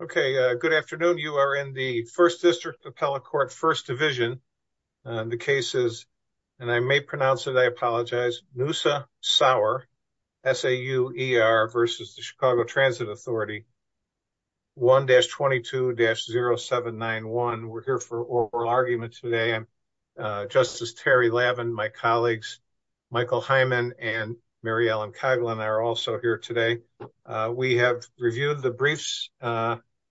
Okay, good afternoon. You are in the First District Appellate Court, First Division. And the case is, and I may pronounce it, I apologize, Noosa Sauer, S-A-U-E-R versus the Chicago Transit Authority, 1-22-0791. We're here for oral argument today. And Justice Terry Lavin, my colleagues, Michael Hyman and Mary Ellen Coghlan are also here today. We have reviewed the briefs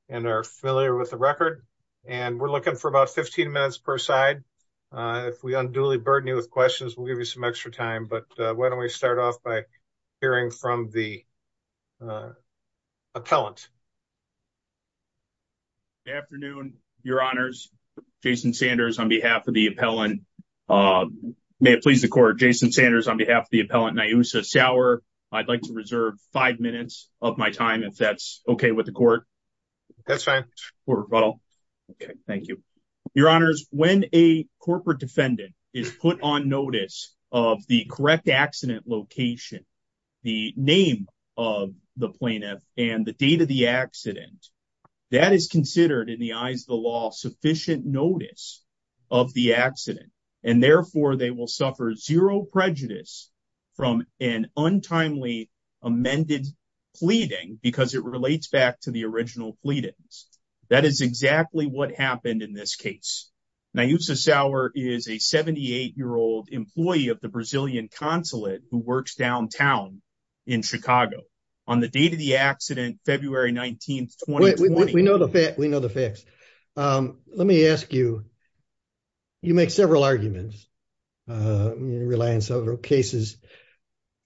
and are familiar with the record. And we're looking for about 15 minutes per side. If we unduly burden you with questions, we'll give you some extra time. But why don't we start off by hearing from the appellant. Good afternoon, your honors. Jason Sanders on behalf of the appellant. May it please the court, Jason Sanders on behalf of the appellant, Noosa Sauer. I'd like to reserve five minutes of my time if that's okay with the court. That's fine. Okay, thank you. Your honors, when a corporate defendant is put on notice of the correct accident location, the name of the plaintiff and the date of the accident, that is considered in the eyes of the law, sufficient notice of the accident. And therefore they will suffer zero prejudice from an untimely amended pleading because it relates back to the original pleadings. That is exactly what happened in this case. Now, Noosa Sauer is a 78 year old employee of the Brazilian consulate who works downtown in Chicago. On the date of the accident, February 19th, 2020. We know the facts, we know the facts. Let me ask you, you make several arguments and you rely on several cases.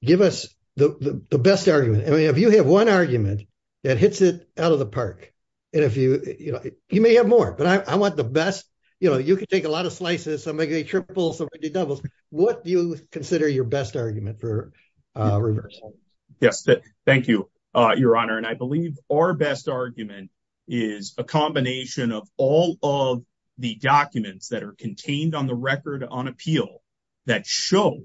Give us the best argument. I mean, if you have one argument that hits it out of the park, and if you, you may have more, but I want the best. You know, you could take a lot of slices, some may be triples, some may be doubles. What do you consider your best argument for reverse? Yes, thank you, your honor. And I believe our best argument is a combination of all of the documents that are contained on the record on appeal that show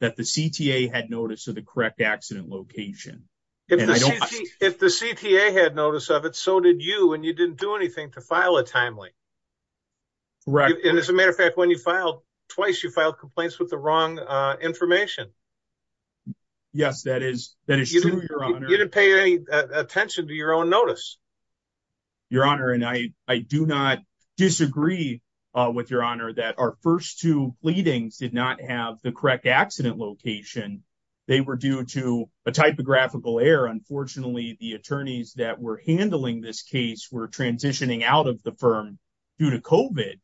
that the CTA had noticed of the correct accident location. If the CTA had notice of it, so did you, and you didn't do anything to file a timely. Right. And as a matter of fact, when you filed twice, you filed complaints with the wrong information. Yes, that is, that is true, your honor. You didn't pay any attention to your own notice. Your honor, and I do not disagree with your honor that our first two pleadings did not have the correct accident location. They were due to a typographical error. Unfortunately, the attorneys that were handling this case were transitioning out of the firm due to COVID.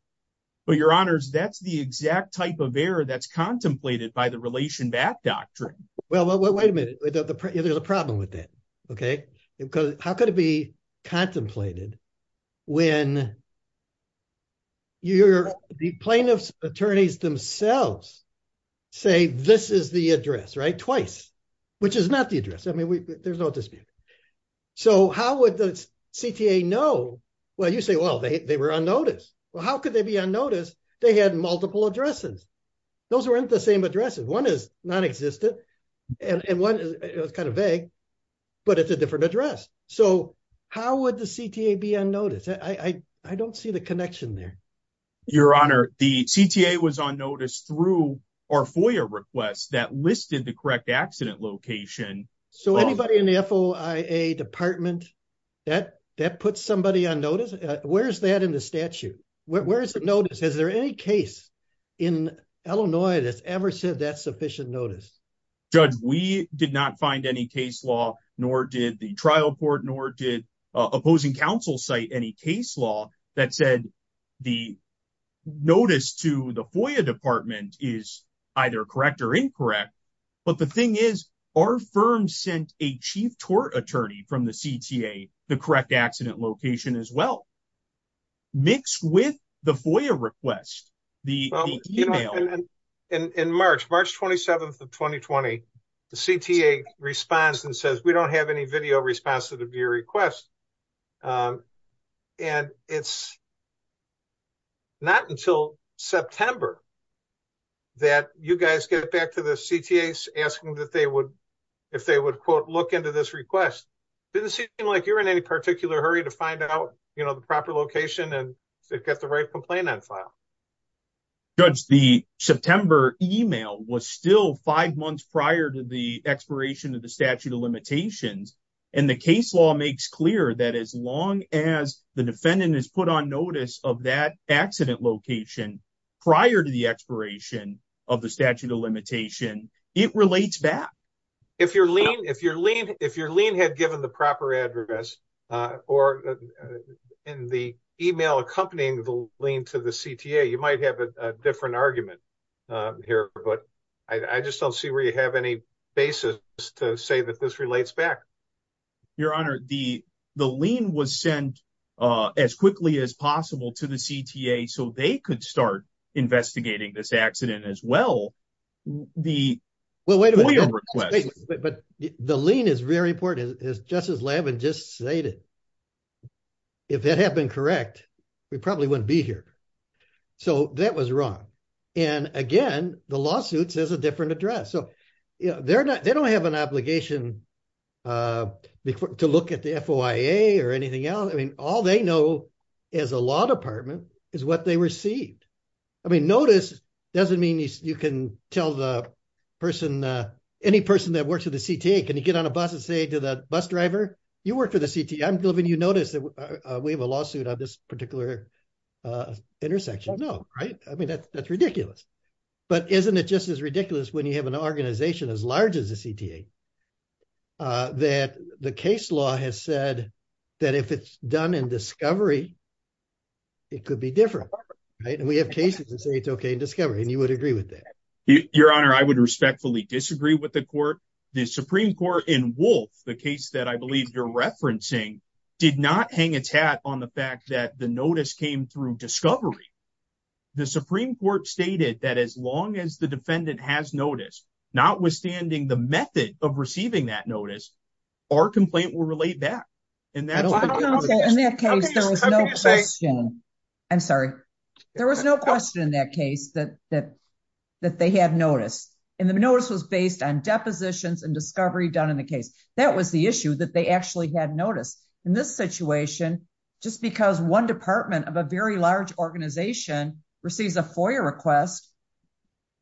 But your honors, that's the exact type of error that's contemplated by the relation back doctrine. Well, wait a minute, there's a problem with that. Okay, because how could it be contemplated when the plaintiff's attorneys themselves say this is the address, right? Twice, which is not the address. I mean, there's no dispute. So how would the CTA know? Well, you say, well, they were on notice. Well, how could they be on notice? They had multiple addresses. Those weren't the same addresses. One is non-existent and one is kind of vague, but it's a different address. So how would the CTA be on notice? I don't see the connection there. Your honor, the CTA was on notice through our FOIA request that listed the correct accident location. So anybody in the FOIA department that puts somebody on notice, where's that in the statute? Where's the notice? Is there any case in Illinois that's ever said that's sufficient notice? Judge, we did not find any case law nor did the trial court nor did opposing counsel cite any case law that said the notice to the FOIA department is either correct or incorrect. But the thing is our firm sent a chief tort attorney from the CTA the correct accident location as well. Mixed with the FOIA request, the email. In March, March 27th of 2020, the CTA responds and says, we don't have any video response to your request. And it's not until September that you guys get back to the CTAs asking if they would, quote, look into this request. Didn't seem like you were in any particular hurry to find out the proper location and get the right complaint on file. Judge, the September email was still five months prior to the expiration of the statute of limitations. And the case law makes clear that as long as the defendant has put on notice of that accident location prior to the expiration of the statute of limitation, it relates back. If your lien had given the proper address or in the email accompanying the lien to the CTA, you might have a different argument here, but I just don't see where you have any basis to say that this relates back. Your Honor, the lien was sent as quickly as possible to the CTA so they could start investigating this accident as well. The FOIA request- Well, wait a minute, but the lien is very important as Justice Lavin just stated. If that had been correct, we probably wouldn't be here. So that was wrong. And again, the lawsuit says a different address. So they don't have an obligation to look at the FOIA or anything else. I mean, all they know as a law department is what they received. I mean, notice doesn't mean you can tell the person, any person that works with the CTA, can you get on a bus and say to the bus driver, you work for the CTA. I'm telling you, you notice that we have a lawsuit on this particular intersection. You don't know, right? I mean, that's ridiculous. But isn't it just as ridiculous when you have an organization as large as the CTA that the case law has said that if it's done in discovery, it could be different, right? And we have cases that say it's okay in discovery and you would agree with that. Your Honor, I would respectfully disagree with the court. The Supreme Court in Wolf, the case that I believe you're referencing, did not hang its hat on the fact that the notice came through discovery. The Supreme Court stated that as long as the defendant has notice, notwithstanding the method of receiving that notice, our complaint will relate back. And that's- In that case, there was no question. I'm sorry. There was no question in that case that they had noticed. And the notice was based on depositions and discovery done in the case. That was the issue that they actually had noticed. In this situation, just because one department of a very large organization receives a FOIA request,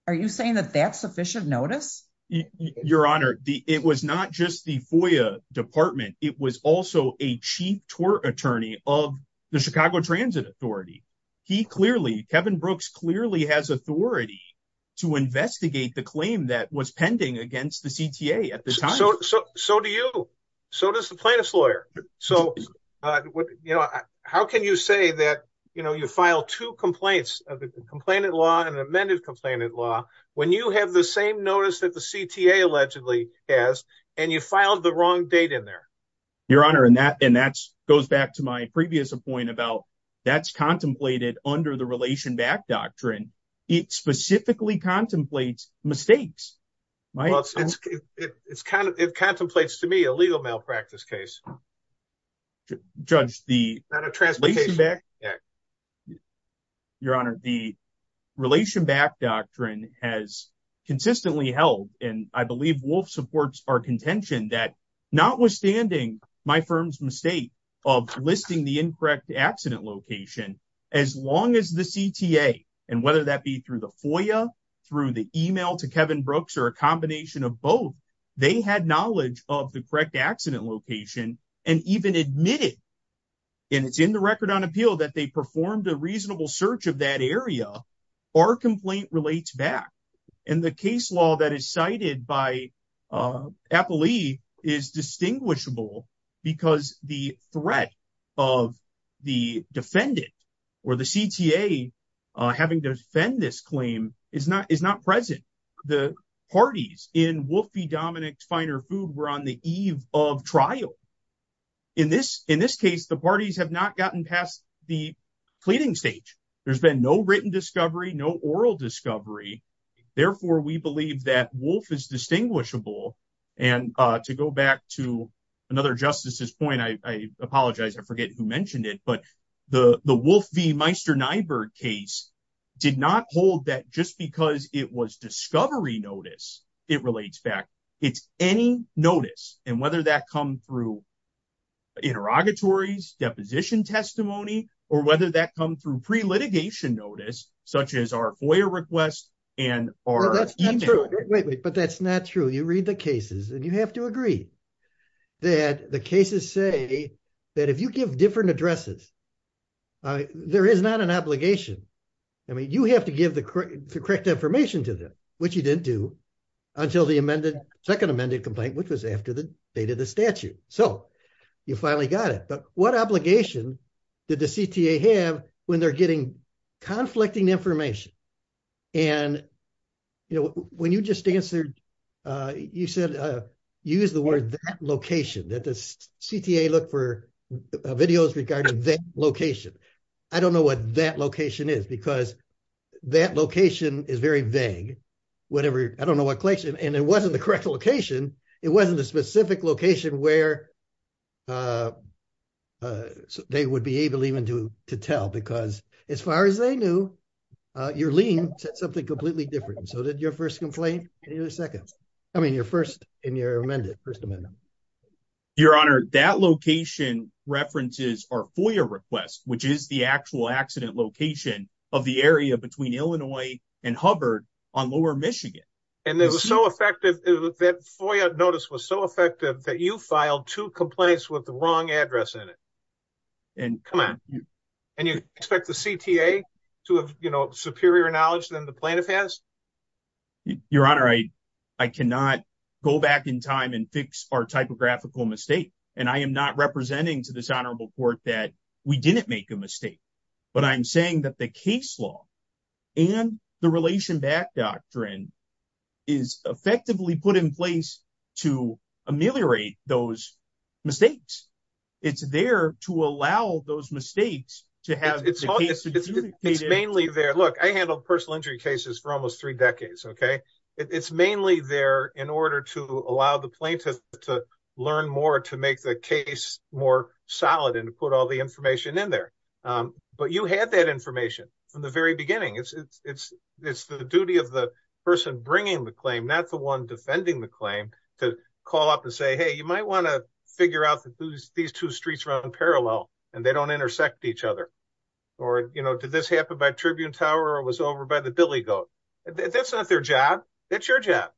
are you saying that that's sufficient notice? Your Honor, it was not just the FOIA department. It was also a chief tort attorney of the Chicago Transit Authority. He clearly, Kevin Brooks clearly has authority to investigate the claim that was pending against the CTA at the time. So do you. So does the plaintiff's lawyer. So how can you say that you file two complaints, a complainant law and an amended complainant law, when you have the same notice that the CTA allegedly has, and you filed the wrong date in there? Your Honor, and that goes back to my previous point about that's contemplated under the Relation Back Doctrine. It specifically contemplates mistakes. My- It's kind of, it contemplates to me a legal malpractice case. Judge, the- Not a translocation. Your Honor, the Relation Back Doctrine has consistently held, and I believe Wolf supports our contention that notwithstanding my firm's mistake of listing the incorrect accident location, as long as the CTA, and whether that be through the FOIA, through the email to Kevin Brooks, or a combination of both, they had knowledge of the correct accident location, and even admitted, and it's in the Record on Appeal, that they performed a reasonable search of that area, our complaint relates back. And the case law that is cited by Appley is distinguishable because the threat of the defendant, or the CTA having to defend this claim, is not present. The parties in Wolf v. Dominick's Finer Food were on the eve of trial. In this case, the parties have not gotten past the pleading stage. There's been no written discovery, no oral discovery. Therefore, we believe that Wolf is distinguishable. And to go back to another Justice's point, I apologize, I forget who mentioned it, but the Wolf v. Meister-Nyberg case did not hold that just because it was discovery notice, it relates back, it's any notice, and whether that come through interrogatories, deposition testimony, or whether that come through pre-litigation notice, such as our FOIA request, and our email. Wait, wait, but that's not true. You read the cases, and you have to agree that the cases say that if you give different addresses, there is not an obligation. I mean, you have to give the correct information to them, which you didn't do until the amended, second amended complaint, which was after the date of the statute. So you finally got it. But what obligation did the CTA have when they're getting conflicting information? And when you just answered, you said, you used the word that location, that the CTA look for videos regarding that location. I don't know what that location is, because that location is very vague, whatever, I don't know what collection, and it wasn't the correct location. It wasn't a specific location where they would be able even to tell, because as far as they knew, your lien said something completely different. So did your first complaint, and your second, I mean, your first and your amended, first amendment. Your honor, that location references our FOIA request, which is the actual accident location of the area between Illinois and Hubbard on lower Michigan. And that was so effective, that FOIA notice was so effective that you filed two complaints with the wrong address in it. And come on, and you expect the CTA to have superior knowledge than the plaintiff has? Your honor, I cannot go back in time and fix our typographical mistake. And I am not representing to this honorable court that we didn't make a mistake, but I'm saying that the case law and the relation back doctrine is effectively put in place to ameliorate those mistakes. It's there to allow those mistakes to have the case adjudicated. It's mainly there. Look, I handled personal injury cases for almost three decades, okay? It's mainly there in order to allow the plaintiff to learn more, to make the case more solid and to put all the information in there. But you had that information from the very beginning. It's the duty of the person bringing the claim, not the one defending the claim, to call up and say, hey, you might wanna figure out that these two streets run parallel and they don't intersect each other. Or, you know, did this happen by Tribune Tower or it was over by the Billy Goat? That's not their job. That's your job.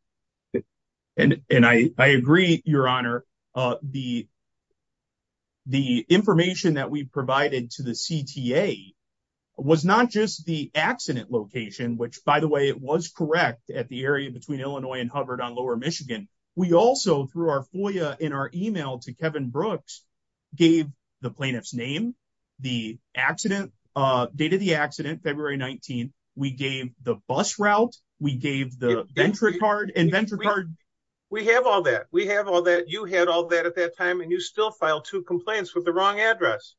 And I agree, your honor. The information that we provided to the CTA was not just the accident location, which by the way, it was correct at the area between Illinois and Hubbard on lower Michigan. We also, through our FOIA in our email to Kevin Brooks, gave the plaintiff's name, the accident, date of the accident, February 19. We gave the bus route, we gave the venture card and venture card. We have all that. We have all that. You had all that at that time and you still filed two complaints with the wrong address.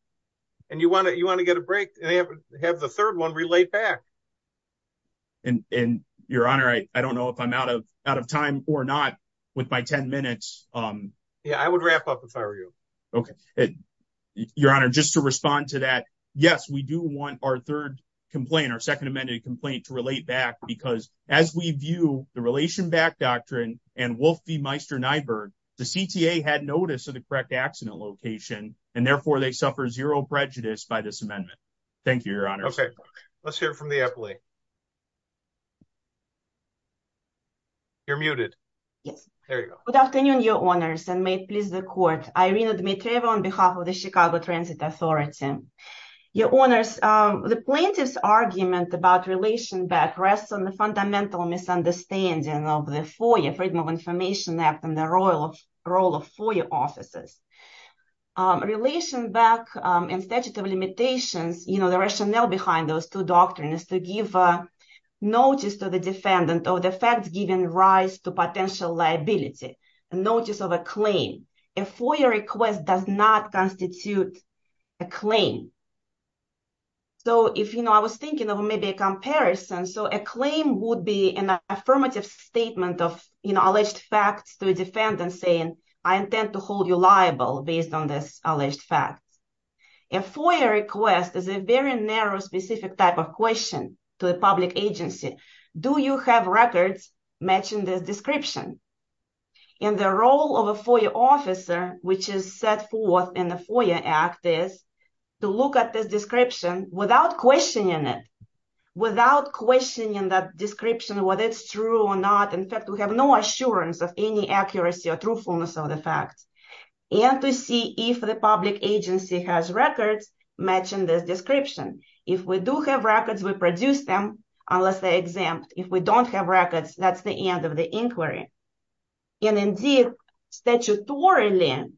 And you wanna get a break and have the third one relayed back. And your honor, I don't know if I'm out of time or not with my 10 minutes. Yeah, I would wrap up if I were you. Okay. Your honor, just to respond to that. Yes, we do want our third complaint, our second amended complaint to relate back because as we view the Relation Back Doctrine and Wolf v. Meister-Nyberg, the CTA had notice of the correct accident location and therefore they suffer zero prejudice by this amendment. Thank you, your honor. Okay, let's hear from the appley. You're muted. There you go. Good afternoon, your honors and may it please the court. Irina Dmitrieva on behalf of the Chicago Transit Authority. Your honors, the plaintiff's argument about relation back rests on the fundamental misunderstanding of the FOIA, Freedom of Information Act and the role of FOIA officers. Relation back and statutes of limitations, the rationale behind those two doctrines to give notice to the defendant of the facts given rise to potential liability, notice of a claim. A FOIA request does not constitute a claim. So if I was thinking of maybe a comparison, so a claim would be an affirmative statement of alleged facts to a defendant saying, I intend to hold you liable based on this alleged facts. A FOIA request is a very narrow, specific type of question to a public agency. Do you have records matching this description? And the role of a FOIA officer, which is set forth in the FOIA Act is, to look at this description without questioning it, without questioning that description, whether it's true or not. In fact, we have no assurance of any accuracy or truthfulness of the facts. And to see if the public agency has records matching this description. If we do have records, we produce them, unless they're exempt. If we don't have records, that's the end of the inquiry. And indeed, statutorily,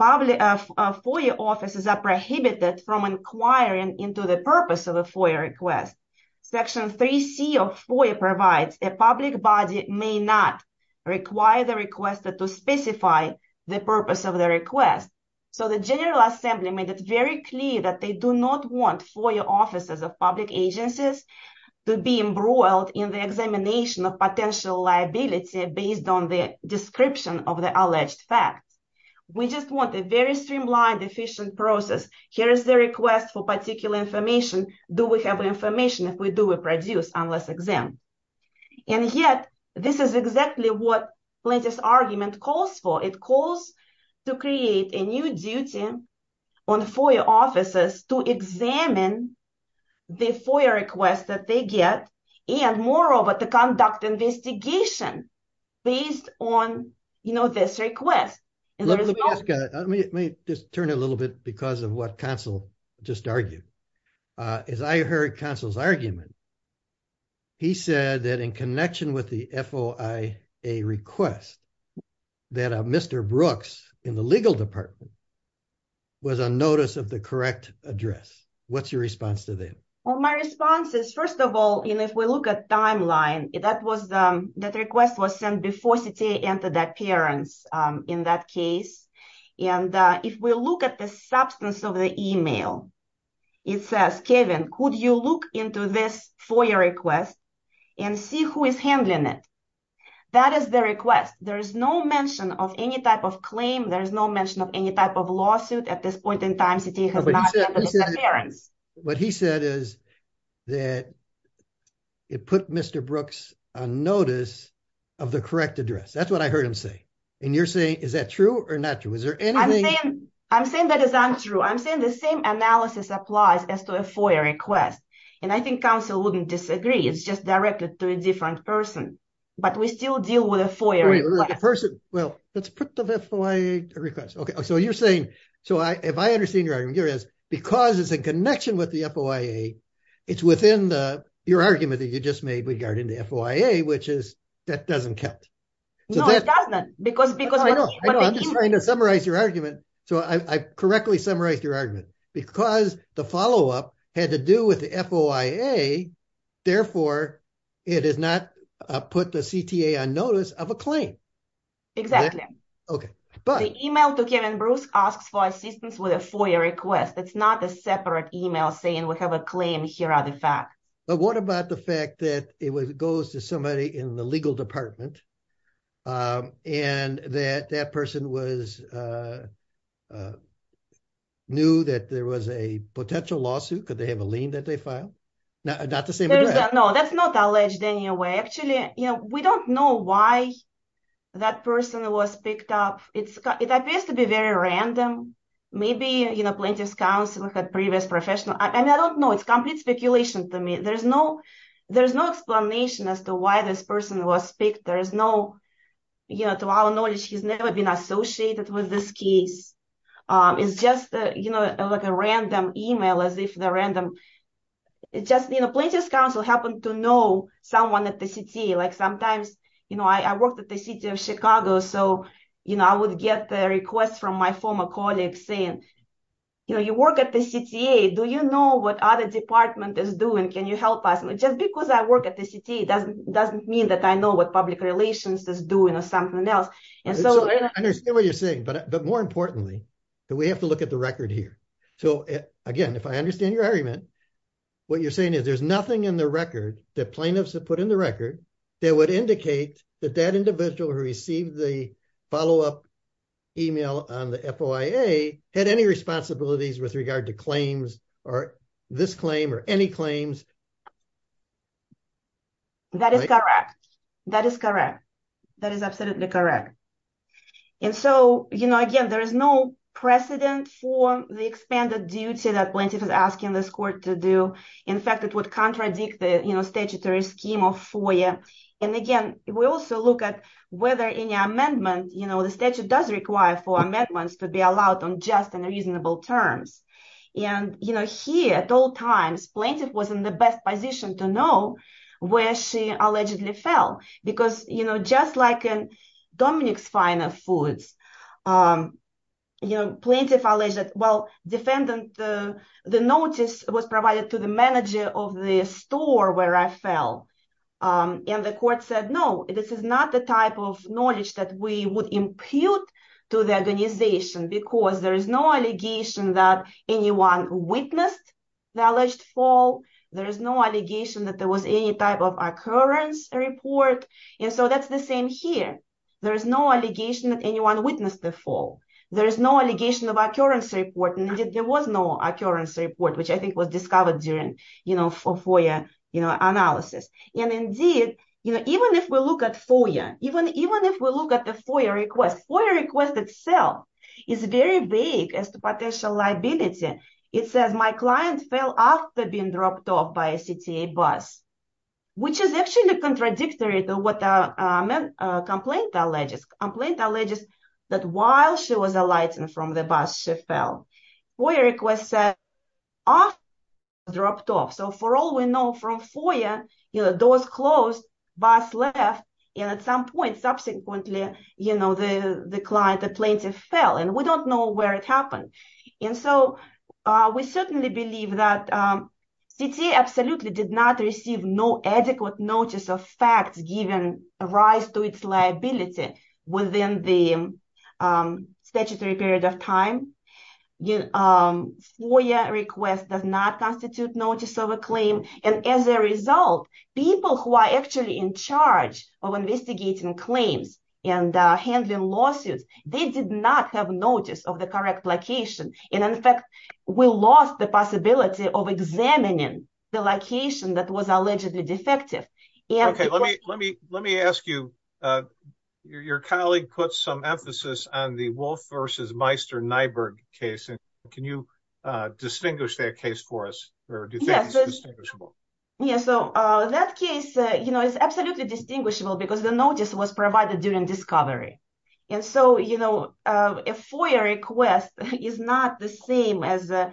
FOIA offices are prohibited from inquiring into the purpose of a FOIA request. Section 3C of FOIA provides, a public body may not require the requester to specify the purpose of the request. So the General Assembly made it very clear that they do not want FOIA offices of public agencies to be embroiled in the examination of potential liability based on the description of the alleged facts. We just want a very streamlined, efficient process. Here is the request for particular information. Do we have information? If we do, we produce, unless exempt. And yet, this is exactly what plaintiff's argument calls for. It calls to create a new duty on FOIA offices to examine the FOIA request that they get, and moreover, to conduct investigation based on this request. And there is no- Let me just turn a little bit because of what Counsel just argued. As I heard Counsel's argument, he said that in connection with the FOIA request, that Mr. Brooks in the legal department was on notice of the correct address. What's your response to that? Well, my response is, first of all, and if we look at timeline, that request was sent before CTA entered that parents in that case. And if we look at the substance of the email, it says, Kevin, could you look into this FOIA request and see who is handling it? That is the request. There is no mention of any type of claim. There is no mention of any type of lawsuit at this point in time, CTA has not entered the parents. What he said is that it put Mr. Brooks on notice of the correct address. That's what I heard him say. And you're saying, is that true or not true? Is there anything- I'm saying that is untrue. I'm saying the same analysis applies as to a FOIA request. And I think Counsel wouldn't disagree. It's just directed to a different person, but we still deal with a FOIA request. Well, let's put the FOIA request. Okay, so you're saying, so if I understand your argument here is, because it's in connection with the FOIA, it's within your argument that you just made regarding the FOIA, which is, that doesn't count. No, it does not, because- I know, I know, I'm just trying to summarize your argument. So I correctly summarized your argument. Because the follow-up had to do with the FOIA, therefore, it is not put the CTA on notice of a claim. Exactly. Okay, but- The email to Kevin Brooks asks for assistance with a FOIA request. It's not a separate email saying, we have a claim, here are the facts. But what about the fact that it goes to somebody in the legal department, and that that person was, knew that there was a potential lawsuit, could they have a lien that they filed? Not the same address. No, that's not alleged in any way. Actually, we don't know why that person was picked up. It appears to be very random. Maybe plaintiff's counsel had previous professional, and I don't know, it's complete speculation to me. There's no explanation as to why this person was picked. There is no, to our knowledge, he's never been associated with this case. It's just like a random email, as if they're random. Plaintiff's counsel happened to know someone at the CTA. Like sometimes, I worked at the city of Chicago, so I would get the request from my former colleagues saying, you work at the CTA, do you know what other department is doing? Can you help us? And just because I work at the CTA doesn't mean that I know what public relations is doing or something else. And so- I understand what you're saying, but more importantly, that we have to look at the record here. So again, if I understand your argument, what you're saying is there's nothing in the record that plaintiffs have put in the record that would indicate that that individual who received the follow-up email on the FOIA had any responsibilities with regard to claims or this claim or any claims. That is correct. That is correct. That is absolutely correct. And so, you know, again, there is no precedent for the expanded duty that plaintiff is asking this court to do. In fact, it would contradict the statutory scheme of FOIA. And again, we also look at whether any amendment, you know, the statute does require for amendments to be allowed on just and reasonable terms. And, you know, here at all times, plaintiff was in the best position to know where she allegedly fell. Because, you know, just like in Dominic's Fine Foods, you know, plaintiff alleged, well, defendant, the notice was provided to the manager of the store where I fell. And the court said, no, this is not the type of knowledge that we would impute to the organization because there is no allegation that anyone witnessed the alleged fall. There is no allegation that there was any type of occurrence report. And so that's the same here. There is no allegation that anyone witnessed the fall. There is no allegation of occurrence report. And there was no occurrence report, which I think was discovered during, you know, FOIA analysis. And indeed, you know, even if we look at FOIA, even if we look at the FOIA request, FOIA request itself is very vague as to potential liability. It says my client fell after being dropped off by a CTA bus, which is actually contradictory to what the complaint alleges. Complaint alleges that while she was alighting from the bus, she fell. FOIA request said after she was dropped off. So for all we know from FOIA, you know, doors closed, bus left, and at some point subsequently, you know, the client, the plaintiff fell, and we don't know where it happened. And so we certainly believe that CTA absolutely did not receive no adequate notice of facts given rise to its liability within the statutory period of time. FOIA request does not constitute notice of a claim. And as a result, people who are actually in charge of investigating claims and handling lawsuits, they did not have notice of the correct location. And in fact, we lost the possibility of examining the location that was allegedly defective. And- Okay, let me ask you, your colleague put some emphasis on the Wolf versus Meister-Nyberg case. And can you distinguish that case for us? Or do you think it's distinguishable? Yeah, so that case, you know, it's absolutely distinguishable because the notice was provided during discovery. And so, you know, a FOIA request is not the same as the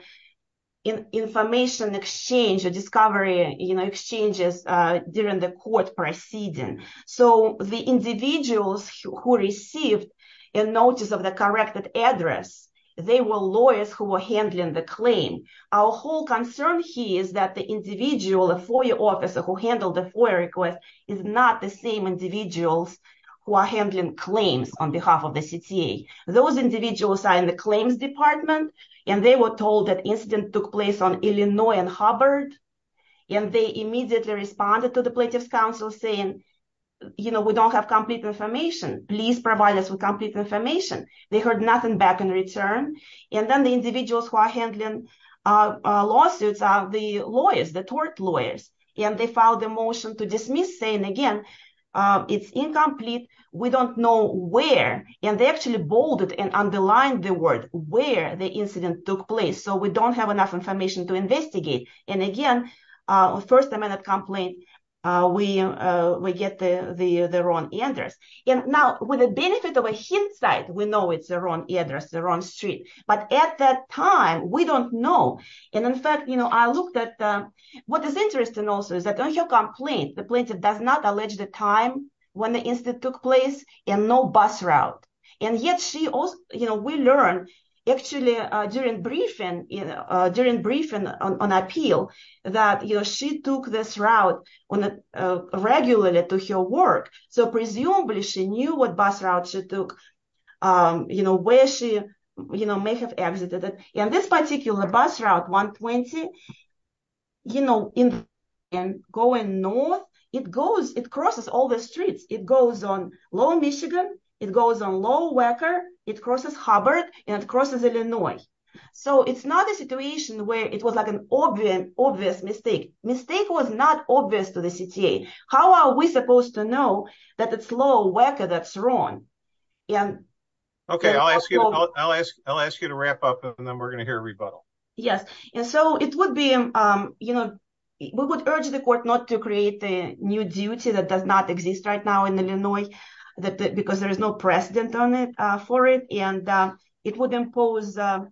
information exchange or discovery exchanges during the court proceeding. So the individuals who received a notice of the corrected address, they were lawyers who were handling the claim. Our whole concern here is that the individual, a FOIA officer who handled the FOIA request is not the same individuals who are handling claims on behalf of the CTA. Those individuals are in the claims department and they were told that incident took place on Illinois and Hubbard. And they immediately responded to the Plaintiff's Council saying, you know, we don't have complete information. Please provide us with complete information. They heard nothing back in return. And then the individuals who are handling lawsuits are the lawyers, the tort lawyers. And they filed a motion to dismiss saying again, it's incomplete, we don't know where. And they actually bolded and underlined the word where the incident took place. So we don't have enough information to investigate. And again, first amendment complaint, we get the wrong address. And now with the benefit of a hint site, we know it's the wrong address, the wrong street. But at that time, we don't know. And in fact, you know, I looked at, what is interesting also is that on your complaint, the plaintiff does not allege the time when the incident took place and no bus route. And yet she also, you know, we learn actually during briefing on appeal that, you know, she took this route regularly to her work. So presumably she knew what bus route she took, you know, where she, you know, may have exited it. And this particular bus route 120, you know, and going north, it goes, it crosses all the streets. It goes on Lower Michigan, it goes on Lower Wacker, it crosses Hubbard and it crosses Illinois. So it's not a situation where it was like an obvious mistake. Mistake was not obvious to the CTA. How are we supposed to know that it's Lower Wacker that's wrong? And- Okay, I'll ask you to wrap up and then we're gonna hear a rebuttal. Yes, and so it would be, you know, we would urge the court not to create a new duty that does not exist right now in Illinois because there is no precedent on it for it. And it would impose a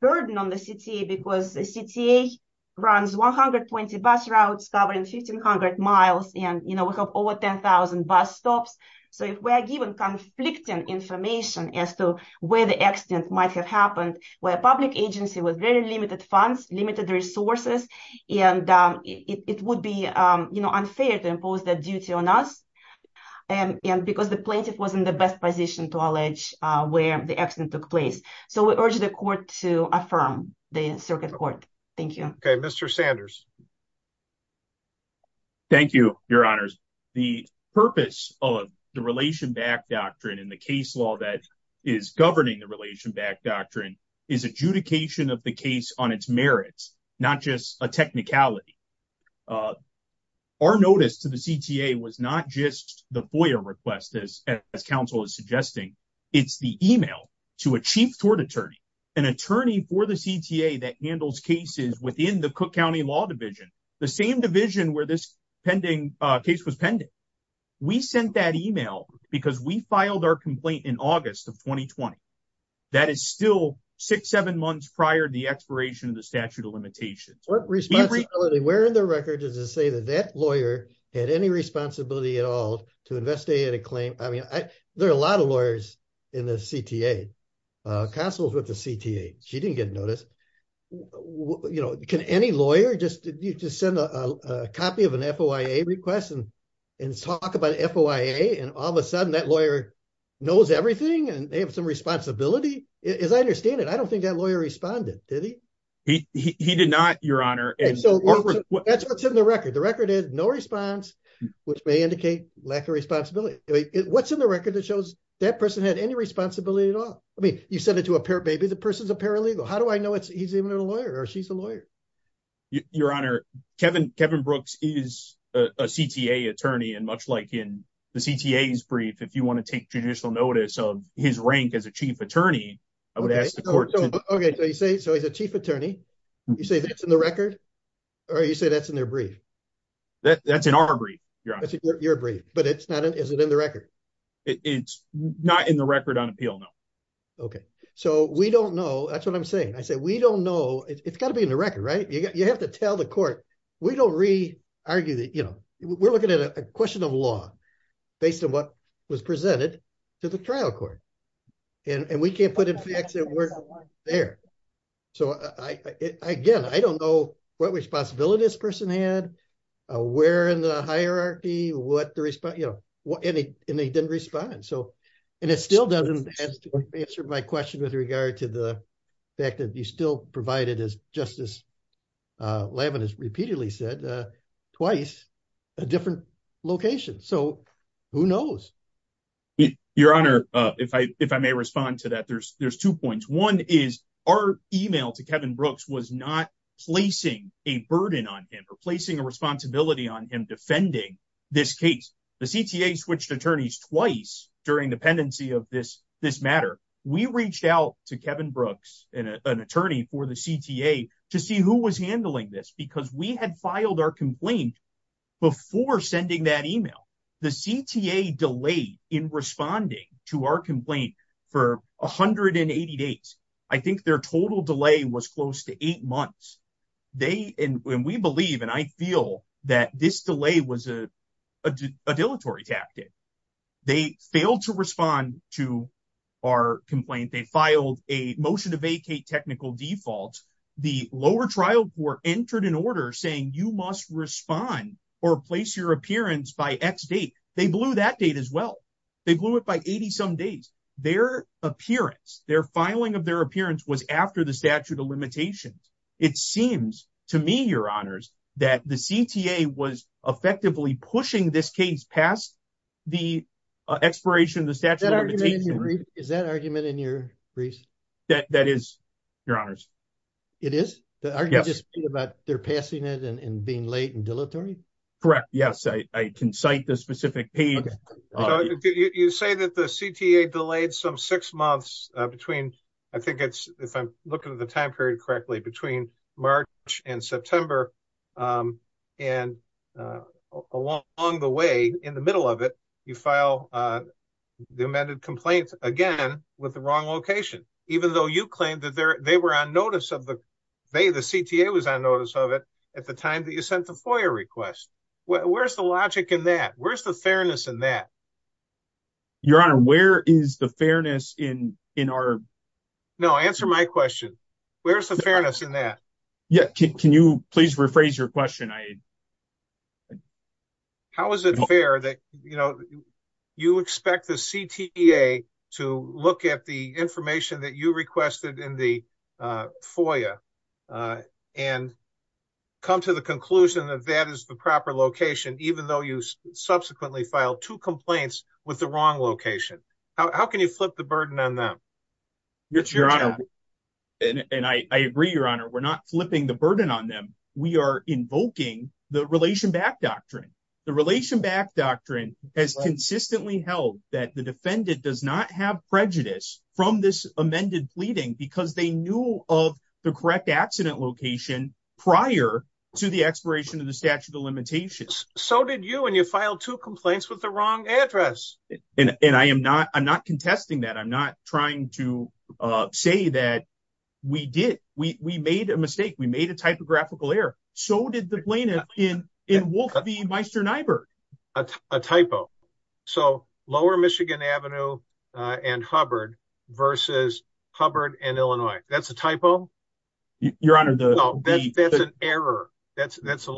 burden on the CTA because the CTA runs 120 bus routes covering 1,500 miles. And, you know, we have over 10,000 bus stops. So if we're given conflicting information as to where the accident might have happened, where a public agency with very limited funds, limited resources, and it would be, you know, unfair to impose that duty on us. And because the plaintiff was in the best position to allege where the accident took place. So we urge the court to affirm the circuit court. Thank you. Okay, Mr. Sanders. Thank you, your honors. The purpose of the Relation Back Doctrine and the case law that is governing the Relation Back Doctrine is adjudication of the case on its merits, not just a technicality. Our notice to the CTA was not just the FOIA request as counsel is suggesting, it's the email to a chief tort attorney, an attorney for the CTA that handles cases within the Cook County Law Division, the same division where this pending case was pending. We sent that email because we filed our complaint in August of 2020. That is still six, seven months prior to the expiration of the statute of limitations. What responsibility, where in the record does it say that that lawyer had any responsibility at all to investigate a claim? I mean, there are a lot of lawyers in the CTA, counsel's with the CTA. She didn't get noticed. You know, can any lawyer just send a copy of an FOIA request and talk about FOIA? And all of a sudden that lawyer knows everything and they have some responsibility? As I understand it, I don't think that lawyer responded, did he? He did not, your honor. And so that's what's in the record. The record is no response, which may indicate lack of responsibility. What's in the record that shows that person had any responsibility at all? I mean, you send it to a parent, maybe the person's a paralegal. How do I know he's even a lawyer or she's a lawyer? Your honor, Kevin Brooks is a CTA attorney and much like in the CTA's brief, if you want to take judicial notice of his rank as a chief attorney, I would ask the court to- Okay, so you say, so he's a chief attorney. You say that's in the record or you say that's in their brief? That's in our brief, your honor. Your brief, but is it in the record? It's not in the record on appeal, no. Okay, so we don't know, that's what I'm saying. I said, we don't know. It's gotta be in the record, right? You have to tell the court. We don't re-argue that, you know, we're looking at a question of law based on what was presented to the trial court. And we can't put in facts that weren't there. So again, I don't know what responsibility this person had, where in the hierarchy, what the response, you know, and they didn't respond. So, and it still doesn't answer my question with regard to the fact that you still provided as Justice Levin has repeatedly said, twice a different location. So who knows? Your honor, if I may respond to that, there's two points. One is our email to Kevin Brooks was not placing a burden on him or placing a responsibility on him defending this case. The CTA switched attorneys twice during the pendency of this matter. We reached out to Kevin Brooks and an attorney for the CTA to see who was handling this because we had filed our complaint before sending that email. The CTA delayed in responding to our complaint for 180 days. I think their total delay was close to eight months. They, and we believe, and I feel that this delay was a dilatory tactic. They failed to respond to our complaint. They filed a motion to vacate technical defaults. The lower trial court entered an order saying you must respond or place your appearance by X date. They blew that date as well. They blew it by 80 some days. Their appearance, their filing of their appearance was after the statute of limitations. It seems to me, your honors, past the expiration of the statute of limitations. Is that argument in your briefs? That is, your honors. It is? The argument just being about they're passing it and being late and dilatory? Correct, yes. I can cite the specific page. You say that the CTA delayed some six months between, I think it's, if I'm looking at the time period correctly, between March and September, and along the way, in the middle of it, you file the amended complaint again with the wrong location, even though you claimed that they were on notice of the, they, the CTA was on notice of it at the time that you sent the FOIA request. Where's the logic in that? Where's the fairness in that? Your honor, where is the fairness in our- No, answer my question. Where's the fairness in that? Yeah, can you please rephrase your question? How is it fair that, you know, you expect the CTA to look at the information that you requested in the FOIA and come to the conclusion that that is the proper location, even though you subsequently filed two complaints with the wrong location? How can you flip the burden on them? It's your job. And I agree, your honor, we're not flipping the burden on them. We are invoking the Relation Back Doctrine. The Relation Back Doctrine has consistently held that the defendant does not have prejudice from this amended pleading because they knew of the correct accident location prior to the expiration of the statute of limitations. So did you, and you filed two complaints with the wrong address. And I am not, I'm not contesting that. I'm not trying to say that we did, we made a mistake. We made a typographical error. So did the plaintiff in Wolfe v. Meisterneiber. A typo. So Lower Michigan Avenue and Hubbard versus Hubbard and Illinois. That's a typo? Your honor, the- No, that's an error. That's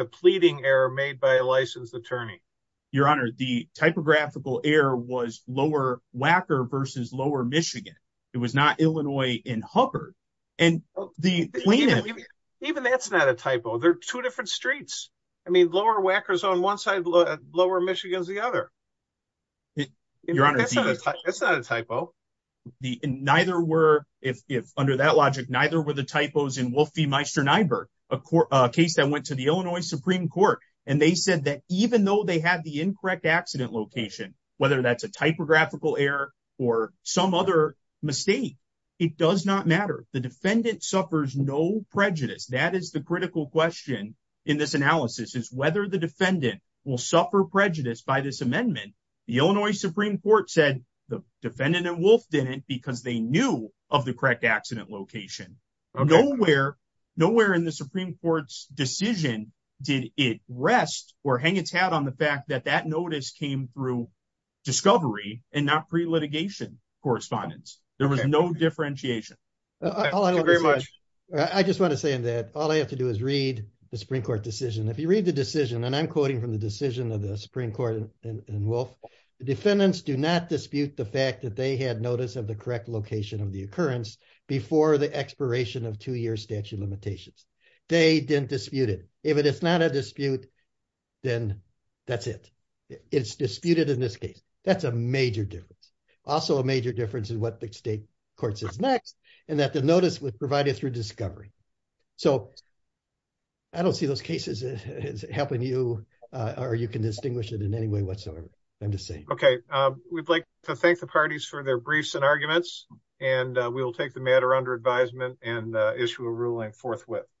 a pleading error made by a licensed attorney. Your honor, the typographical error was Lower Wacker versus Lower Michigan. It was not Illinois and Hubbard. And the plaintiff- Even that's not a typo. They're two different streets. I mean, Lower Wacker's on one side, Lower Michigan's the other. Your honor, the- That's not a typo. Neither were, if under that logic, neither were the typos in Wolfe v. Meisterneiber, a case that went to the Illinois Supreme Court. And they said that even though they had the incorrect accident location, whether that's a typographical error or some other mistake, it does not matter. The defendant suffers no prejudice. That is the critical question in this analysis is whether the defendant will suffer prejudice by this amendment. The Illinois Supreme Court said the defendant in Wolfe didn't because they knew of the correct accident location. Nowhere in the Supreme Court's decision did it rest or hang its hat on the fact that that notice came through discovery and not pre-litigation correspondence. There was no differentiation. Thank you very much. I just want to say in that, all I have to do is read the Supreme Court decision. If you read the decision, and I'm quoting from the decision of the Supreme Court in Wolfe, the defendants do not dispute the fact that they had notice of the correct location of the occurrence before the expiration of two-year statute limitations. They didn't dispute it. If it is not a dispute, then that's it. It's disputed in this case. That's a major difference. Also a major difference is what the state court says next, and that the notice was provided through discovery. So I don't see those cases as helping you or you can distinguish it in any way whatsoever. I'm just saying. Okay, we'd like to thank the parties for their briefs and arguments, and we will take the matter under advisement and issue a ruling forthwith.